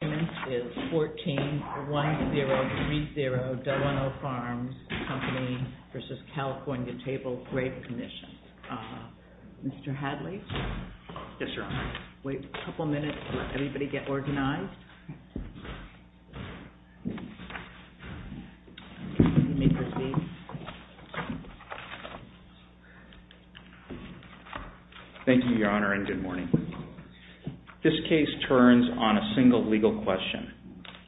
141030 Delano Farms Company v. California Table Grape Commission. Mr. Hadley? Yes, Your Honor. Wait a couple minutes, let everybody get organized. Thank you, Your Honor, and good morning. This case turns on a single legal question.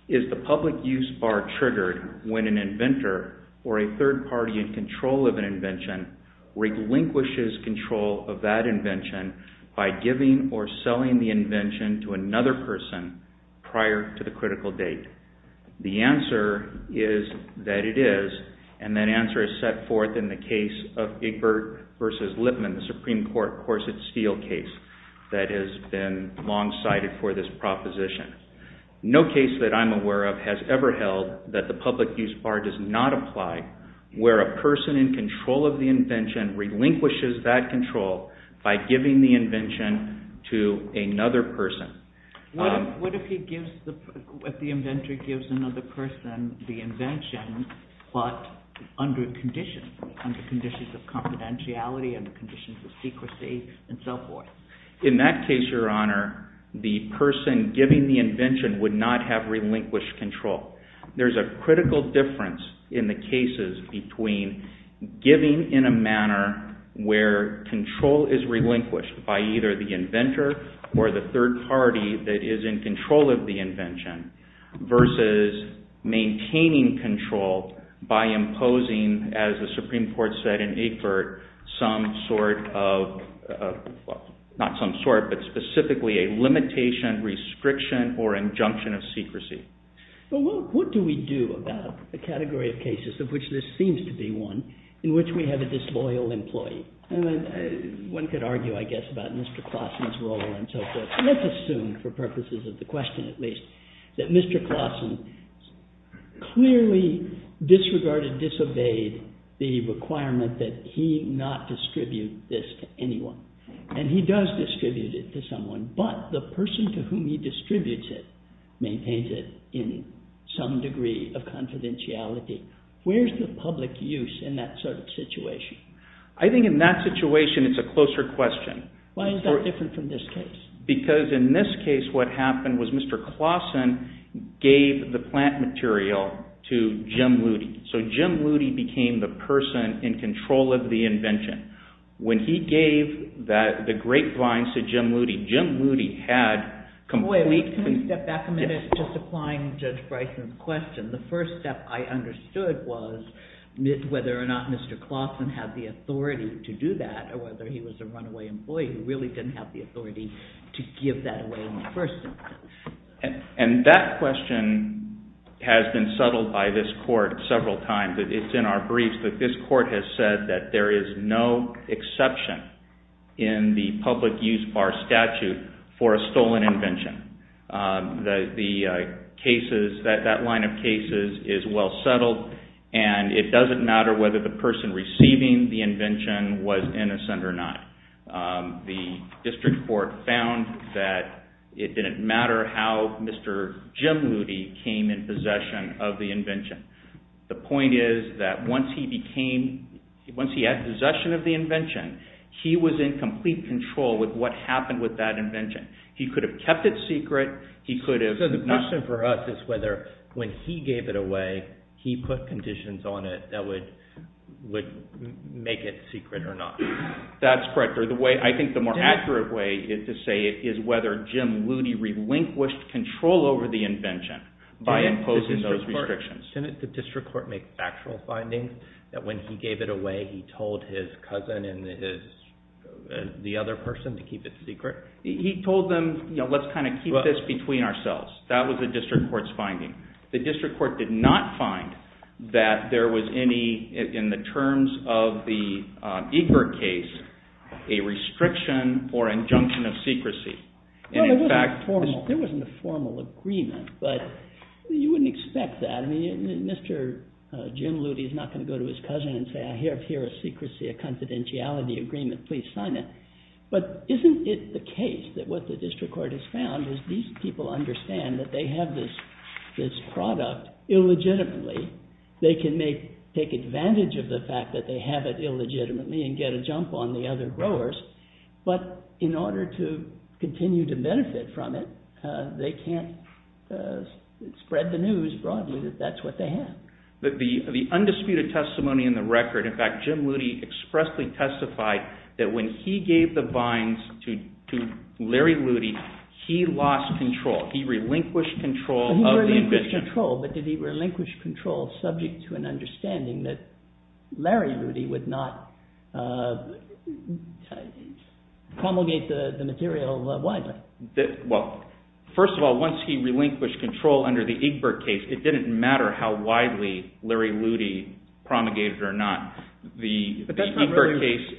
Is the public use bar triggered when an inventor or a third party in control of an invention relinquishes control of that invention by giving or selling the invention to another person prior to the critical date? The answer is that it is, and that answer is set forth in the case of Egbert v. Lipman, the Supreme Court Corset-Steele case. That has been long cited for this proposition. No case that I'm aware of has ever held that the public use bar does not apply where a person in control of the invention relinquishes that control by giving the invention to another person. What if the inventor gives another person the invention, but under conditions, under conditions of confidentiality, under conditions of secrecy, and so forth? In that case, Your Honor, the person giving the invention would not have relinquished control. There's a critical difference in the cases between giving in a manner where control is relinquished by either the inventor or the third party that is in control of the invention, versus maintaining control by imposing, as the Supreme Court said in Egbert, some sort of, well, not some sort, but specifically a limitation, restriction, or injunction of secrecy. But what do we do about a category of cases of which this seems to be one in which we have a disloyal employee? And one could argue, I guess, about Mr. Klassen's role and so forth. Let's assume, for purposes of the question at least, that Mr. Klassen clearly disregarded, disobeyed the requirement that he not distribute this to anyone. And he does distribute it to someone, but the person to whom he distributes it maintains it in some degree of confidentiality. Where's the public use in that sort of situation? I think in that situation, it's a closer question. Why is that different from this case? Because in this case, what happened was Mr. Klassen gave the plant material to Jim Lutie. So Jim Lutie became the person in control of the invention. When he gave the grapevines to Jim Lutie, Jim Lutie had complete... Wait, can we step back a minute just applying Judge Bryson's question? The first step I understood was whether or not Mr. Klassen had the authority to do that or whether he was a runaway employee who really didn't have the authority to give that away in the first instance. And that question has been settled by this court several times. It's in our briefs that this court has said that there is no exception in the public use bar statute for a stolen invention. The cases, that line of cases is well settled and it doesn't matter whether the person receiving the invention was innocent or not. The district court found that it didn't matter how Mr. Jim Lutie came in possession of the invention. The point is that once he became, once he had possession of the invention, he was in complete control with what happened with that invention. He could have kept it secret, he could have... So the question for us is whether when he gave it away, he put conditions on it that would make it secret or not. That's correct. Or the way, I think the more accurate way to say it is whether Jim Lutie relinquished control over the invention by imposing those restrictions. Didn't the district court make factual findings that when he gave it away, he told his cousin and the other person to keep it secret? He told them, you know, let's kind of keep this between ourselves. That was the district court's finding. The district court did not find that there was any, in the terms of the Ebert case, a restriction or injunction of secrecy. Well, there wasn't a formal agreement, but you wouldn't expect that. I mean, Mr. Jim Lutie is not going to go to his cousin and say, I have here a secrecy, a confidentiality agreement, please sign it. But isn't it the case that what the district court has found is these people understand that they have this product illegitimately. They can take advantage of the fact that they have it illegitimately and get a jump on the other growers. But in order to continue to benefit from it, they can't spread the news broadly that that's what they have. The undisputed testimony in the record, in fact, Jim Lutie expressly testified that when he gave the vines to Larry Lutie, he lost control. He relinquished control. He relinquished control, but did he relinquish control subject to an understanding that Larry Lutie would not promulgate the material widely? Well, first of all, once he relinquished control under the Egbert case, it didn't matter how widely Larry Lutie promulgated or not the case.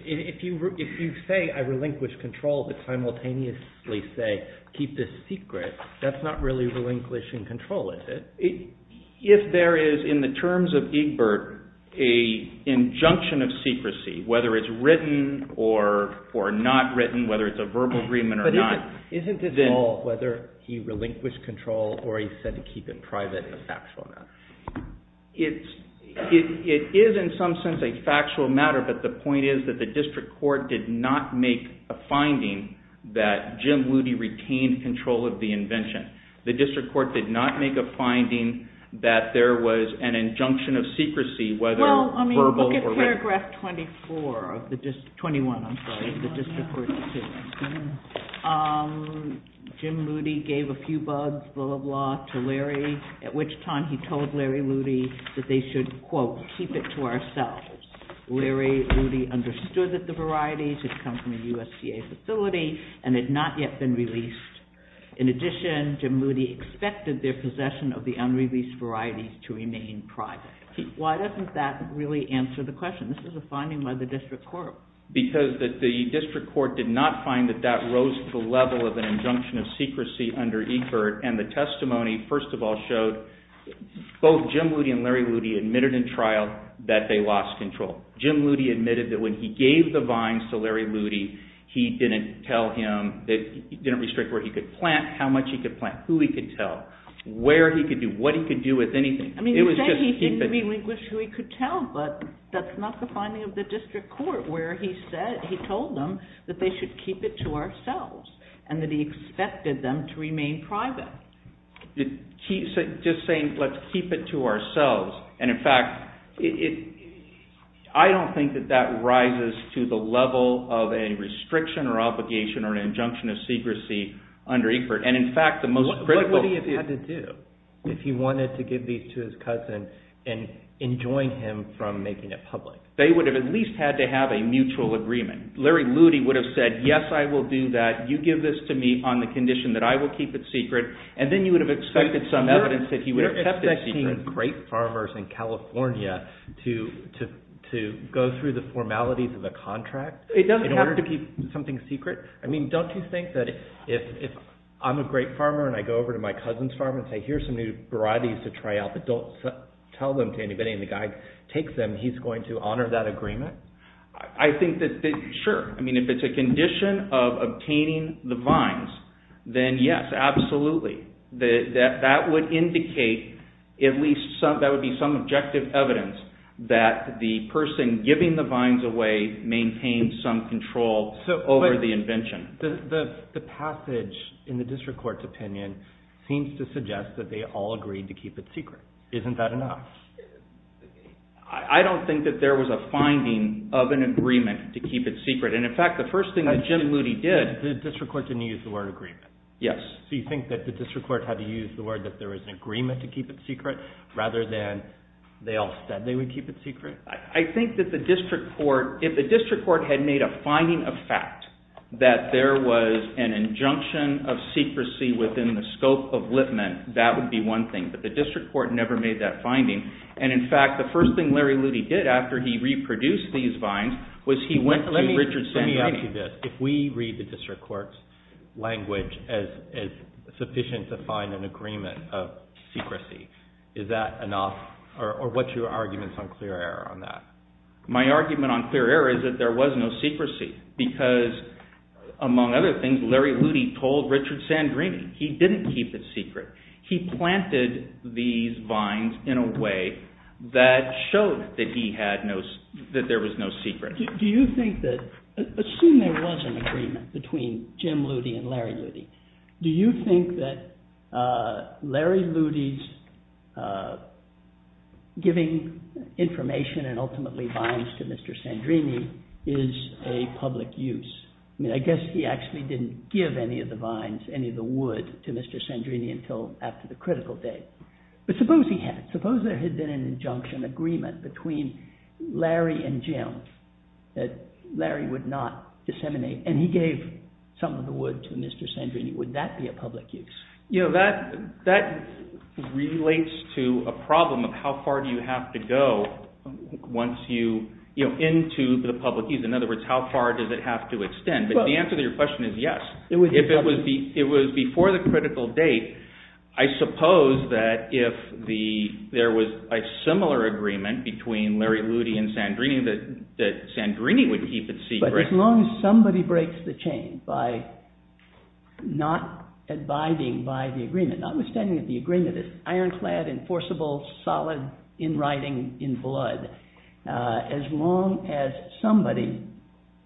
If you say I relinquish control to simultaneously say, keep this secret, that's not really relinquishing control, is it? If there is in the terms of Egbert, a injunction of secrecy, whether it's written or or not written, whether it's a verbal agreement or not. Isn't this all whether he relinquished control or he said to keep it private, a factual matter? It is in some sense a factual matter, but the point is that the district court did not make a finding that Jim Lutie retained control of the invention. The district court did not make a finding that there was an injunction of secrecy, whether verbal or written. In paragraph 21 of the district court's decision, Jim Lutie gave a few bugs, blah, blah, blah, to Larry, at which time he told Larry Lutie that they should, quote, keep it to ourselves. Larry Lutie understood that the varieties had come from a USDA facility and had not yet been released. In addition, Jim Lutie expected their possession of the unreleased varieties to remain private. Why doesn't that really answer the question? This is a finding by the district court. Because the district court did not find that that rose to the level of an injunction of secrecy under Egbert, and the testimony, first of all, showed both Jim Lutie and Larry Lutie admitted in trial that they lost control. Jim Lutie admitted that when he gave the vines to Larry Lutie, he didn't tell him, he didn't restrict where he could plant, how much he could plant, who he could tell, where he could do, what he could do with anything. I mean, he said he didn't relinquish who he could tell, but that's not the finding of the district court, where he said, he told them that they should keep it to ourselves, and that he expected them to remain private. Just saying, let's keep it to ourselves, and in fact, I don't think that that rises to the level of a restriction or obligation or an injunction of secrecy under Egbert. And in fact, the most critical... What would he have had to do if he wanted to give these to his cousin and enjoin him from making it public? They would have at least had to have a mutual agreement. Larry Lutie would have said, yes, I will do that. You give this to me on the condition that I will keep it secret. And then you would have expected some evidence that he would have kept it secret. You're expecting great farmers in California to go through the formalities of a contract? It doesn't have to be something secret. I mean, don't you think that if I'm a great farmer, and I go over to my cousin's farm and say, here's some new varieties to try out, but don't tell them to anybody, and the guy takes them, he's going to honor that agreement? I think that, sure. I mean, if it's a condition of obtaining the vines, then yes, absolutely. That would indicate at least some, that would be some objective evidence that the person giving the vines away maintained some control over the invention. The passage in the district court's opinion seems to suggest that they all agreed to keep it secret. Isn't that enough? I don't think that there was a finding of an agreement to keep it secret. And in fact, the first thing that Jim Lutie did... The district court didn't use the word agreement. Yes. Do you think that the district court had to use the word that there was an agreement to keep it secret, rather than they all said they would keep it secret? I think that the district court, if the district court had made a finding of fact that there was an injunction of secrecy within the scope of Litman, that would be one thing. But the district court never made that finding. And in fact, the first thing Larry Lutie did after he reproduced these vines was he went to Richard Sandlin. If we read the district court's language as sufficient to find an agreement of secrecy, is that enough or what's your arguments on clear error on that? My argument on clear error is that there was no secrecy because, among other things, Larry Lutie told Richard Sandlin he didn't keep it secret. He planted these vines in a way that showed that there was no secret. Do you think that, assume there was an agreement between Jim Lutie and Larry Lutie, do you think that Larry Lutie's giving information and ultimately vines to Mr. Sandrini is a public use? I mean, I guess he actually didn't give any of the vines, any of the wood to Mr. Sandrini until after the critical date. But suppose he had, suppose there had been an injunction agreement between Larry and Jim that Larry would not disseminate and he gave some of the wood to Mr. Sandrini, would that be a public use? You know, that relates to a problem of how far do you have to go once you, you know, into the public use. In other words, how far does it have to extend? But the answer to your question is yes. If it was before the critical date, I suppose that if there was a similar agreement between Larry Lutie and Sandrini that Sandrini would keep it secret. But as long as somebody breaks the chain by not abiding by the agreement, notwithstanding that the agreement is ironclad, enforceable, solid in writing, in blood, as long as somebody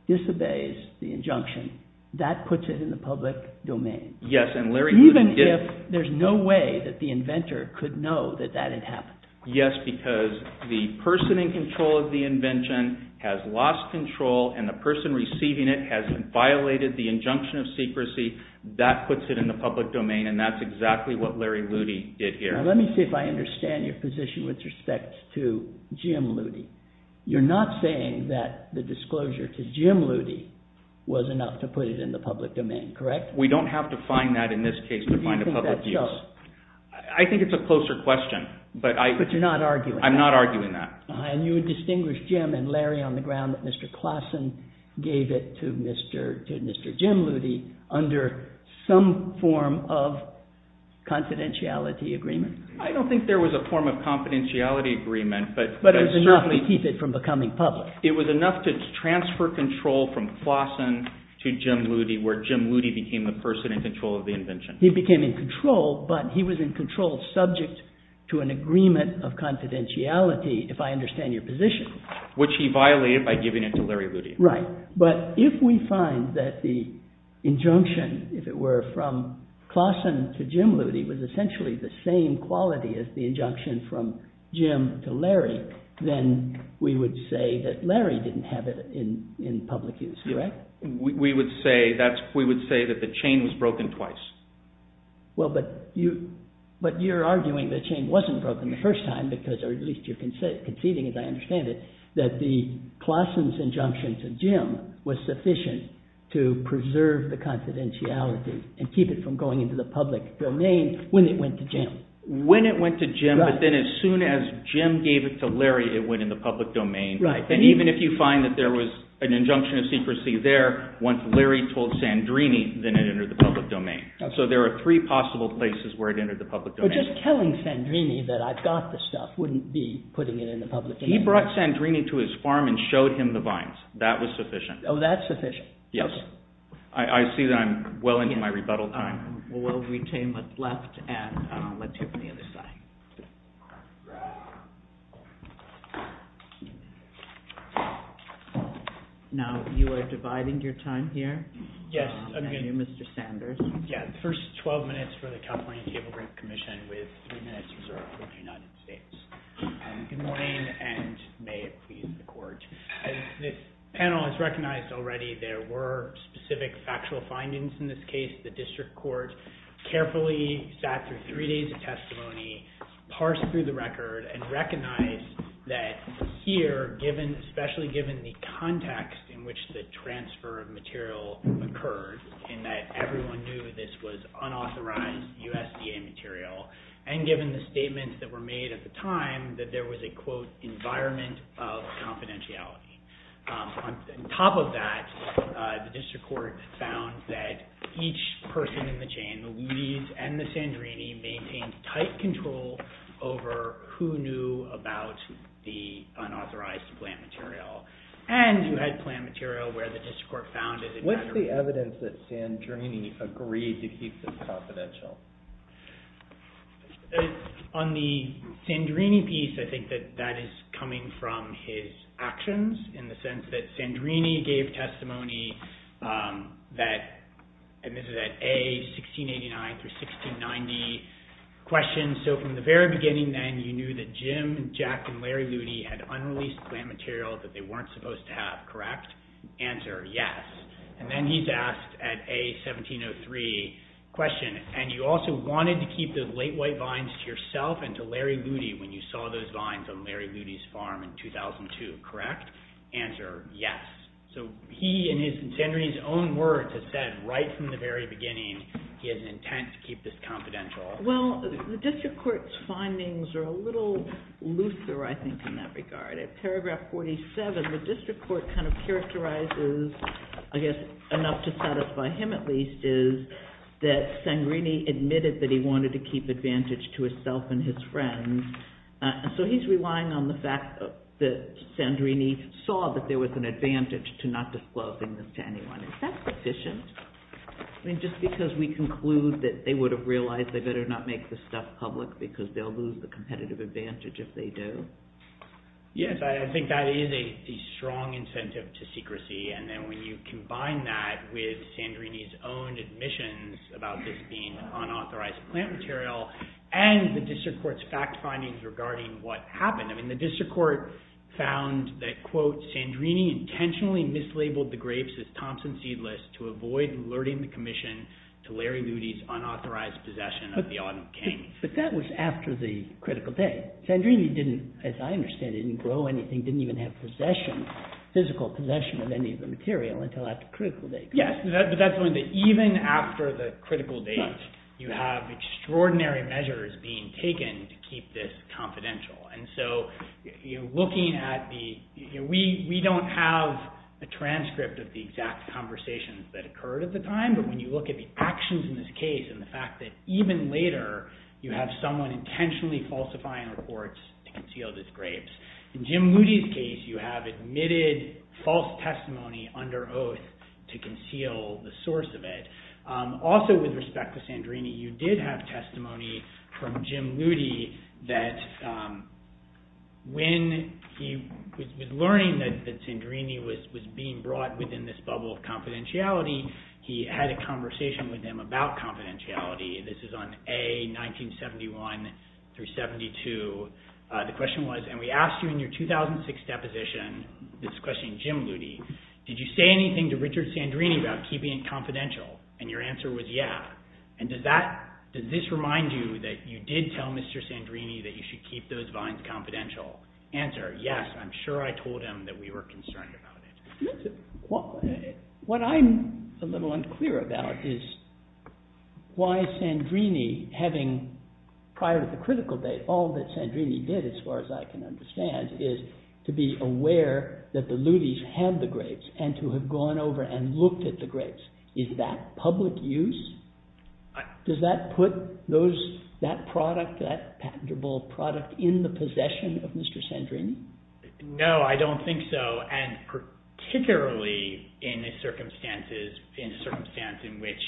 disobeys the agreement, it's in the public domain. Yes, and Larry Lutie did. Even if there's no way that the inventor could know that that had happened. Yes, because the person in control of the invention has lost control and the person receiving it has violated the injunction of secrecy. That puts it in the public domain. And that's exactly what Larry Lutie did here. Let me see if I understand your position with respect to Jim Lutie. You're not saying that the disclosure to Jim Lutie was enough to put it in the public domain, correct? We don't have to find that in this case to find a public use. I think it's a closer question. But you're not arguing that. I'm not arguing that. And you would distinguish Jim and Larry on the ground that Mr. Klassen gave it to Mr. Jim Lutie under some form of confidentiality agreement. I don't think there was a form of confidentiality agreement. But it was enough to keep it from becoming public. It was enough to transfer control from Klassen to Jim Lutie, where Jim Lutie became the person in control of the invention. He became in control, but he was in control subject to an agreement of confidentiality, if I understand your position. Which he violated by giving it to Larry Lutie. Right. But if we find that the injunction, if it were, from Klassen to Jim Lutie was essentially the same quality as the injunction from Jim to Larry, then we would say that Larry didn't have it in public use, correct? We would say that the chain was broken twice. Well, but you're arguing the chain wasn't broken the first time because, or at least you're conceding as I understand it, that the Klassen's injunction to Jim was sufficient to preserve the confidentiality and keep it from going into the public domain when it went to Jim. When it went to Jim, but then as soon as Jim gave it to Larry, it went in the public domain. Right. And even if you find that there was an injunction of secrecy there, once Larry told Sandrini, then it entered the public domain. So there are three possible places where it entered the public domain. But just telling Sandrini that I've got the stuff wouldn't be putting it in the public domain. He brought Sandrini to his farm and showed him the vines. That was sufficient. Oh, that's sufficient. Yes. I see that I'm well into my rebuttal time. Well, we'll retain what's left and let's hear from the other side. Now you are dividing your time here. Yes. Mr. Sanders. Yeah. The first 12 minutes for the California Table Group Commission with three minutes reserved for the United States. Good morning and may it please the Court. This panel has recognized already there were specific factual findings in this case. The district court carefully sat through three days of testimony, parsed through the record and recognized that here given, especially given the context in which the transfer of material occurred and that everyone knew this was unauthorized USDA material. And given the statements that were made at the time that there was a, quote, environment of confidentiality. On top of that, the district court found that each person in the chain, the Lutis and the Sandrini, maintained tight control over who knew about the unauthorized plant material and who had plant material where the district court found it. What's the evidence that Sandrini agreed to keep them confidential? On the Sandrini piece, I think that that is coming from his actions in the sense that Sandrini gave testimony that, and this is at A, 1689 through 1690, questions, so from the very beginning then you knew that Jim, Jack and Larry Lutis had unreleased plant material that they weren't supposed to have, correct? Answer, yes. And then he's asked at A, 1703, question, and you also wanted to keep the late white vines to yourself and to Larry Lutis when you saw those vines on Larry Lutis' farm in 2002, correct? Answer, yes. So he and his, Sandrini's own words have said right from the very beginning he had an intent to keep this confidential. Well, the district court's findings are a little looser, I think, in that regard. At paragraph 47, the district court kind of characterizes, I guess enough to satisfy him at least, is that Sandrini admitted that he wanted to keep advantage to himself and his friends. So he's relying on the fact that Sandrini saw that there was an advantage to not disclosing this to anyone. Is that sufficient? I mean, just because we conclude that they would have realized they better not make this stuff public because they'll lose the competitive advantage if they do. Yes, I think that is a strong incentive to secrecy. And then when you combine that with Sandrini's own admissions about this being unauthorized plant material and the district court's fact findings regarding what happened. I mean, the district court found that, quote, Sandrini intentionally mislabeled the grapes as Thompson seedless to avoid alerting the commission to Larry Lutis' unauthorized possession of the autumn cane. But that was after the critical day. Sandrini didn't, as I understand it, didn't grow anything, didn't even have possession, physical possession of any of the material until after critical day. Yes, but that's the point, that even after the critical date, you have extraordinary measures being taken to keep this confidential. And so, you know, looking at the, you know, we don't have a transcript of the exact conversations that occurred at the time. But when you look at the actions in this case and the fact that even later you have someone intentionally falsifying reports to conceal these grapes, in Jim Luti's case, you have admitted false testimony under oath to conceal the source of it. Also, with respect to Sandrini, you did have testimony from Jim Luti that when he was learning that Sandrini was being brought within this bubble of confidentiality, he had a conversation with him about confidentiality. This is on A, 1971 through 72. The question was, and we asked you in your 2006 deposition, this question, Jim Luti, did you say anything to Richard Sandrini about keeping it confidential? And your answer was, yeah. And does that, does this remind you that you did tell Mr. Sandrini that you should keep those vines confidential? Answer, yes. I'm sure I told him that we were concerned about it. What I'm a little unclear about is why Sandrini, having, prior to the critical date, all that Sandrini did, as far as I can understand, is to be aware that the Lutis had the grapes and to have gone over and looked at the grapes. Is that public use? Does that put those, that product, that patentable product in the possession of Mr. Sandrini? No, I don't think so. And particularly in the circumstances, in a circumstance in which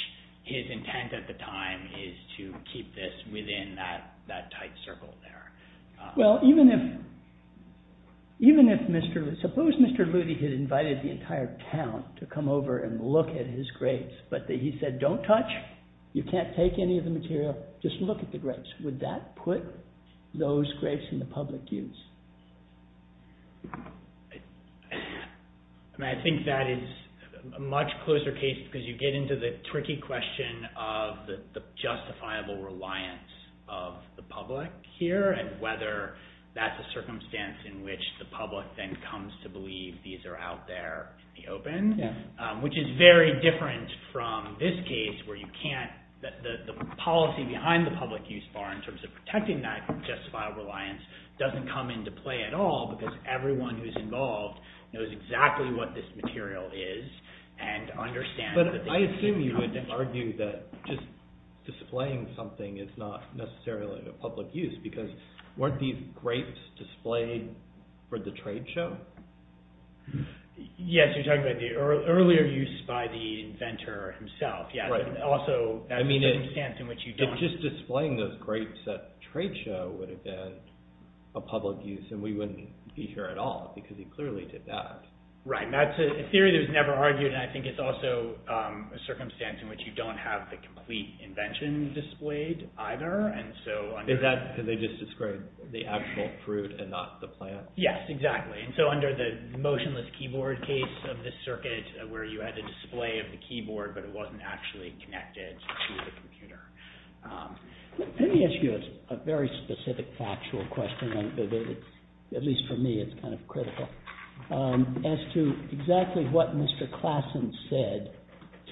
his intent at the time is to keep this within that tight circle there. Well, even if, even if Mr., suppose Mr. Luti had invited the entire town to come over and look at his grapes, but he said, don't touch, you can't take any of the material, just look at the grapes. Would that put those grapes in the public use? I mean, I think that is a much closer case because you get into the tricky question of the justifiable reliance of the public here and whether that's a circumstance in which the public then comes to believe these are out there in the open, which is very different from this case where you can't, the policy behind the public use bar in terms of protecting that justifiable reliance doesn't come into play at all. Because everyone who's involved knows exactly what this material is and understands that they can come to believe it. But I assume you would argue that just displaying something is not necessarily a public use because weren't these grapes displayed for the trade show? Yes, you're talking about the earlier use by the inventor himself. Yeah, but also, I mean, it's just displaying those grapes at trade show would have been a public use. And we wouldn't be here at all because he clearly did that. Right, that's a theory that was never argued and I think it's also a circumstance in which you don't have the complete invention displayed either. Is that because they just described the actual fruit and not the plant? Yes, exactly. And so under the motionless keyboard case of the circuit where you had the display of the keyboard but it wasn't actually connected to the computer. Let me ask you a very specific factual question, at least for me it's kind of critical, as to exactly what Mr. Klassen said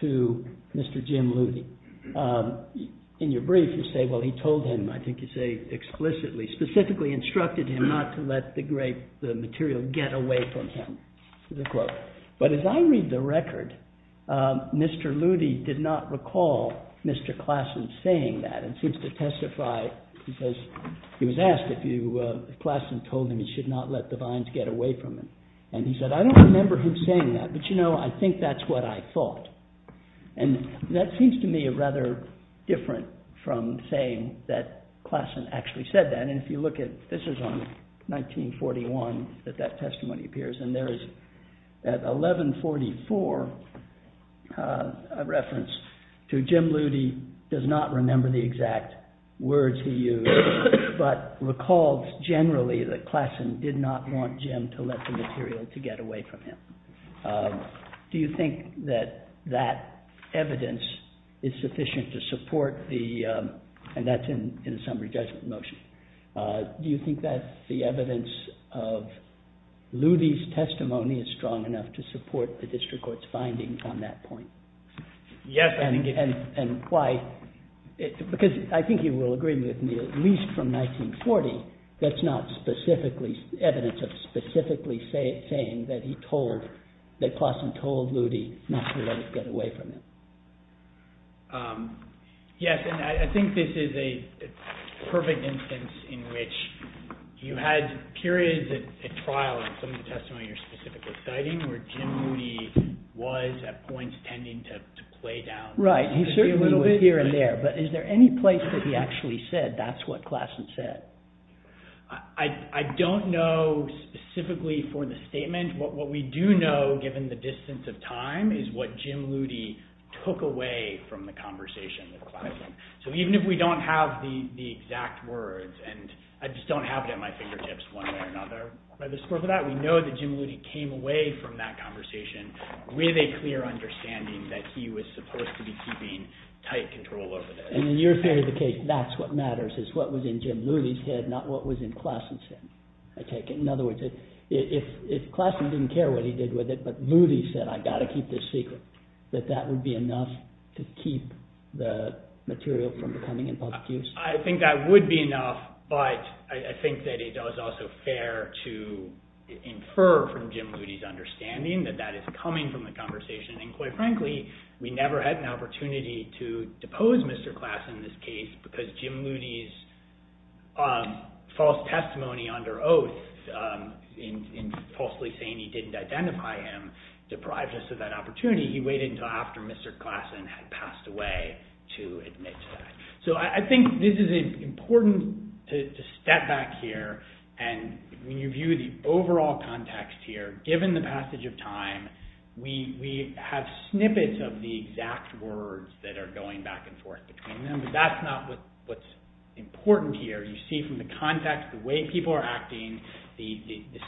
to Mr. Jim Luthe. In your brief you say, well, he told him, I think you say explicitly, specifically instructed him not to let the material get away from him. But as I read the record, Mr. Luthe did not recall Mr. Klassen saying that and seems to testify, he was asked if Klassen told him he should not let the vines get away from him. And he said, I don't remember him saying that, but you know, I think that's what I thought. And that seems to me rather different from saying that Klassen actually said that. And if you look at, this is on 1941 that that testimony appears, and there is at 1144 a reference to Jim Luthe does not remember the exact words he used, but recalls generally that Klassen did not want Jim to let the material to get away from him. Do you think that that evidence is sufficient to support the, and that's in a summary judgment motion. Do you think that the evidence of Luthe's testimony is strong enough to support the district court's findings on that point? Yes, I think it is. And why, because I think you will agree with me, at least from 1940, that's not specifically, evidence of specifically saying that he told, that Klassen told Luthe not to let it get away from him. Yes, and I think this is a perfect instance in which you had periods at trial in some of the testimonies you're specifically citing, where Jim Luthe was at points tending to play down. Right, he certainly was here and there, but is there any place that he actually said that's what Klassen said? I don't know specifically for the statement. What we do know, given the distance of time, is what Jim Luthe took away from the conversation with Klassen. So even if we don't have the exact words, and I just don't have it at my fingertips one way or another, by the scope of that, we know that Jim Luthe came away from that conversation with a clear understanding that he was supposed to be keeping tight control over this. And in your theory of the case, that's what matters, is what was in Jim Luthe's head, not what was in Klassen's head, I take it. In other words, if Klassen didn't care what he did with it, but Luthe said, I've got to keep this secret, that that would be enough to keep the material from becoming in public use? I think that would be enough, but I think that it is also fair to infer from Jim Luthe's understanding that that is coming from the conversation, and quite frankly, we never had an opportunity to depose Mr. Klassen in this case, because Jim Luthe's false testimony under oath, in falsely saying he didn't identify him, deprived us of that opportunity. He waited until after Mr. Klassen had passed away to admit to that. So I think this is important to step back here and review the overall context here. Given the passage of time, we have snippets of the exact words that are going back and forth between them, but that's not what's important here. You see from the context, the way people are acting, the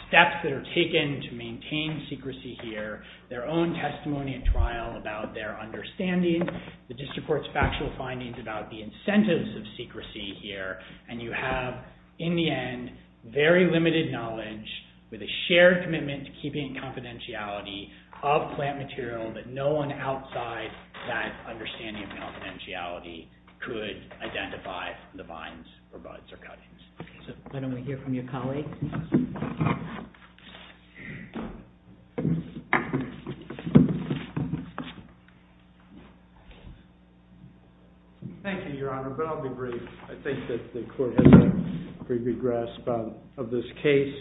steps that are taken to maintain secrecy here, their own testimony at trial about their understanding, the District Court's factual findings about the incentives of secrecy here, and you have, in the end, very limited knowledge with a shared commitment to keeping confidentiality of plant material that no one outside that understanding of confidentiality could identify the vines, or buds, or cuttings. Why don't we hear from your colleague? Thank you, Your Honor, but I'll be brief. I think that the Court has a pretty good grasp of this case.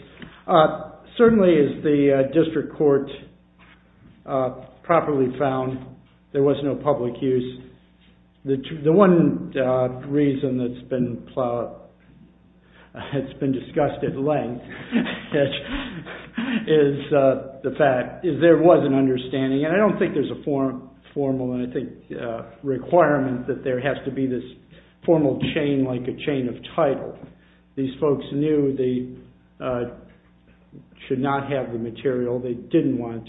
Certainly, as the District Court properly found, there was no public use. The one reason that's been discussed at length is there was an understanding, and I don't think there's a formal requirement that there has to be this formal chain like a chain of title. These folks knew they should not have the material. They didn't want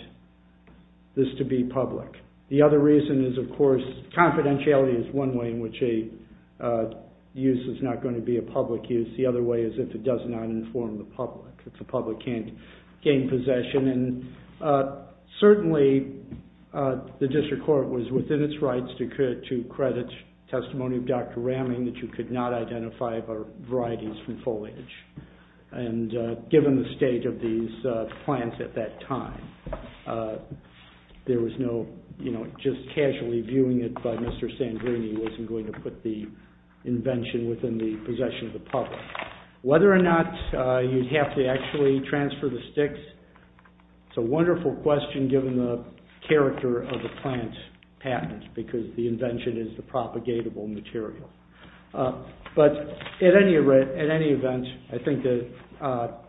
this to be public. The other reason is, of course, confidentiality is one way in which a use is not going to be a public use. The other way is if it does not inform the public. If the public can't gain possession. Certainly, the District Court was within its rights to credit testimony of Dr. Ramming that you could not identify varieties from foliage, and given the state of these plants at that time, just casually viewing it by Mr. Sandrini wasn't going to put the invention within the possession of the public. Whether or not you'd have to actually transfer the sticks is a wonderful question, given the character of the plant patent, because the invention is the propagatable material. But at any event, I think that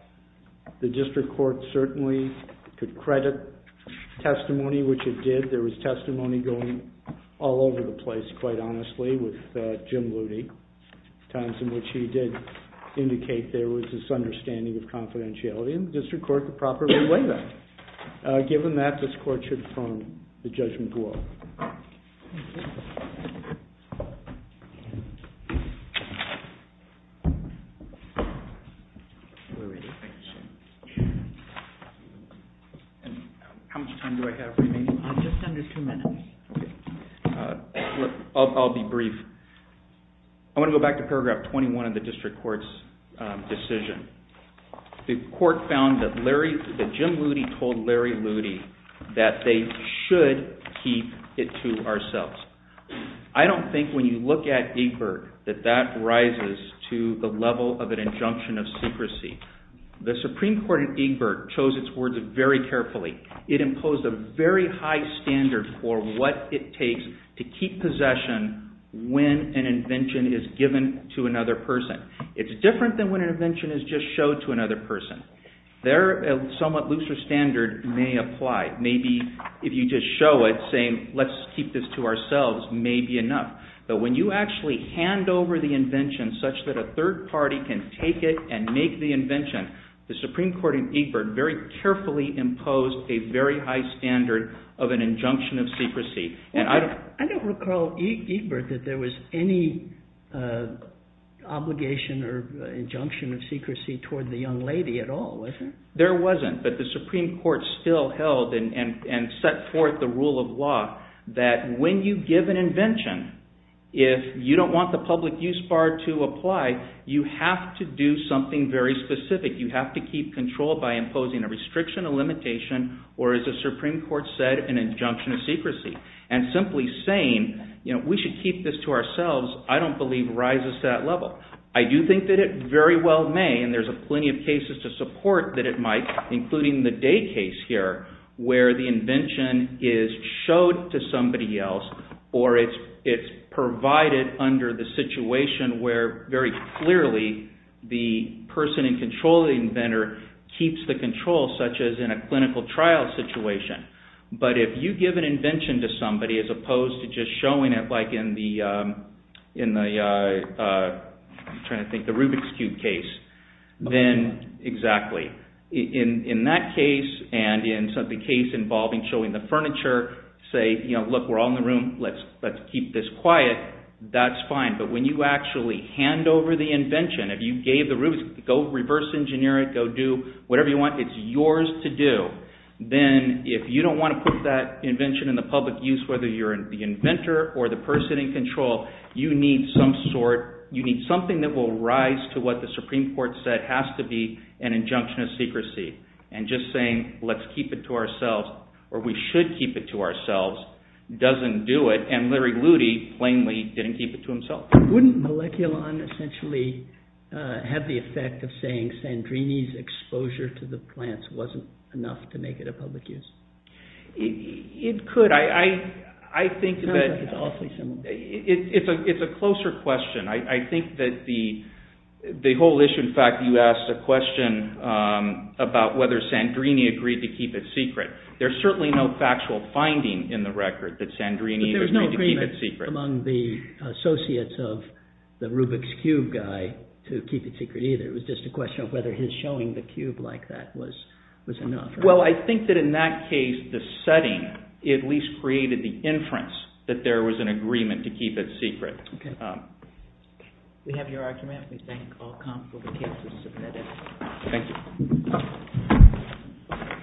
the District Court certainly could credit testimony, which it did. There was testimony going all over the place, quite honestly, with Jim Looney, times in which he did indicate there was this understanding of confidentiality, and the District Court could properly weigh that. Given that, this Court should confirm the judgment to all. How much time do I have remaining? Just under two minutes. I'll be brief. I want to go back to paragraph 21 of the District Court's decision. The Court found that Jim Looney told Larry Looney that they should keep it to ourselves. I don't think when you look at Egbert that that rises to the level of an injunction of secrecy. The Supreme Court in Egbert chose its words very carefully. It imposed a very high standard for what it takes to keep possession when an invention is given to another person. It's different than when an invention is just showed to another person. Their somewhat looser standard may apply. Maybe if you just show it, saying, let's keep this to ourselves, may be enough. But when you actually hand over the invention such that a third party can take it and make the invention, the Supreme Court in Egbert very carefully imposed a very high standard of an injunction of secrecy. I don't recall, Egbert, that there was any obligation or injunction of secrecy toward the young lady at all, was there? There wasn't, but the Supreme Court still held and set forth the rule of law that when you give an invention, if you don't want the public use bar to apply, you have to do something very specific. You have to keep control by imposing a restriction, a limitation, or as the Supreme Court said, an injunction of secrecy. Simply saying, we should keep this to ourselves, I don't believe rises to that level. I do think that it very well may, and there's plenty of cases to support that it might, including the Day case here, where the invention is showed to somebody else or it's provided under the situation where very clearly the person in control of the inventor keeps the control, such as in a clinical trial situation. But if you give an invention to somebody, as opposed to just showing it like in the Rubik's Cube case, then, exactly, in that case and in the case involving showing the furniture, say, look, we're all in the room, let's keep this quiet, that's fine, but when you actually hand over the invention, if you gave the Rubik's, go reverse engineer it, go do whatever you want, it's yours to do, then, if you don't want to put that invention in the public use, whether you're the inventor or the person in control, you need something that will rise to what the Supreme Court said has to be an injunction of secrecy. And just saying, let's keep it to ourselves, or we should keep it to ourselves, doesn't do it. And Larry Ludy, plainly, didn't keep it to himself. Wouldn't Moleculon essentially have the effect of saying Sandrini's exposure to the plants wasn't enough to make it a public use? It could. I think that it's a closer question. I think that the whole issue, in fact, you asked a question about whether Sandrini agreed to keep it secret. There's certainly no factual finding in the record that Sandrini agreed to keep it secret. It wasn't among the associates of the Rubik's Cube guy to keep it secret either. It was just a question of whether his showing the cube like that was enough. Well, I think that in that case, the setting at least created the inference that there was an agreement to keep it secret. Okay. We have your argument. We thank Alcom for the case. Thank you.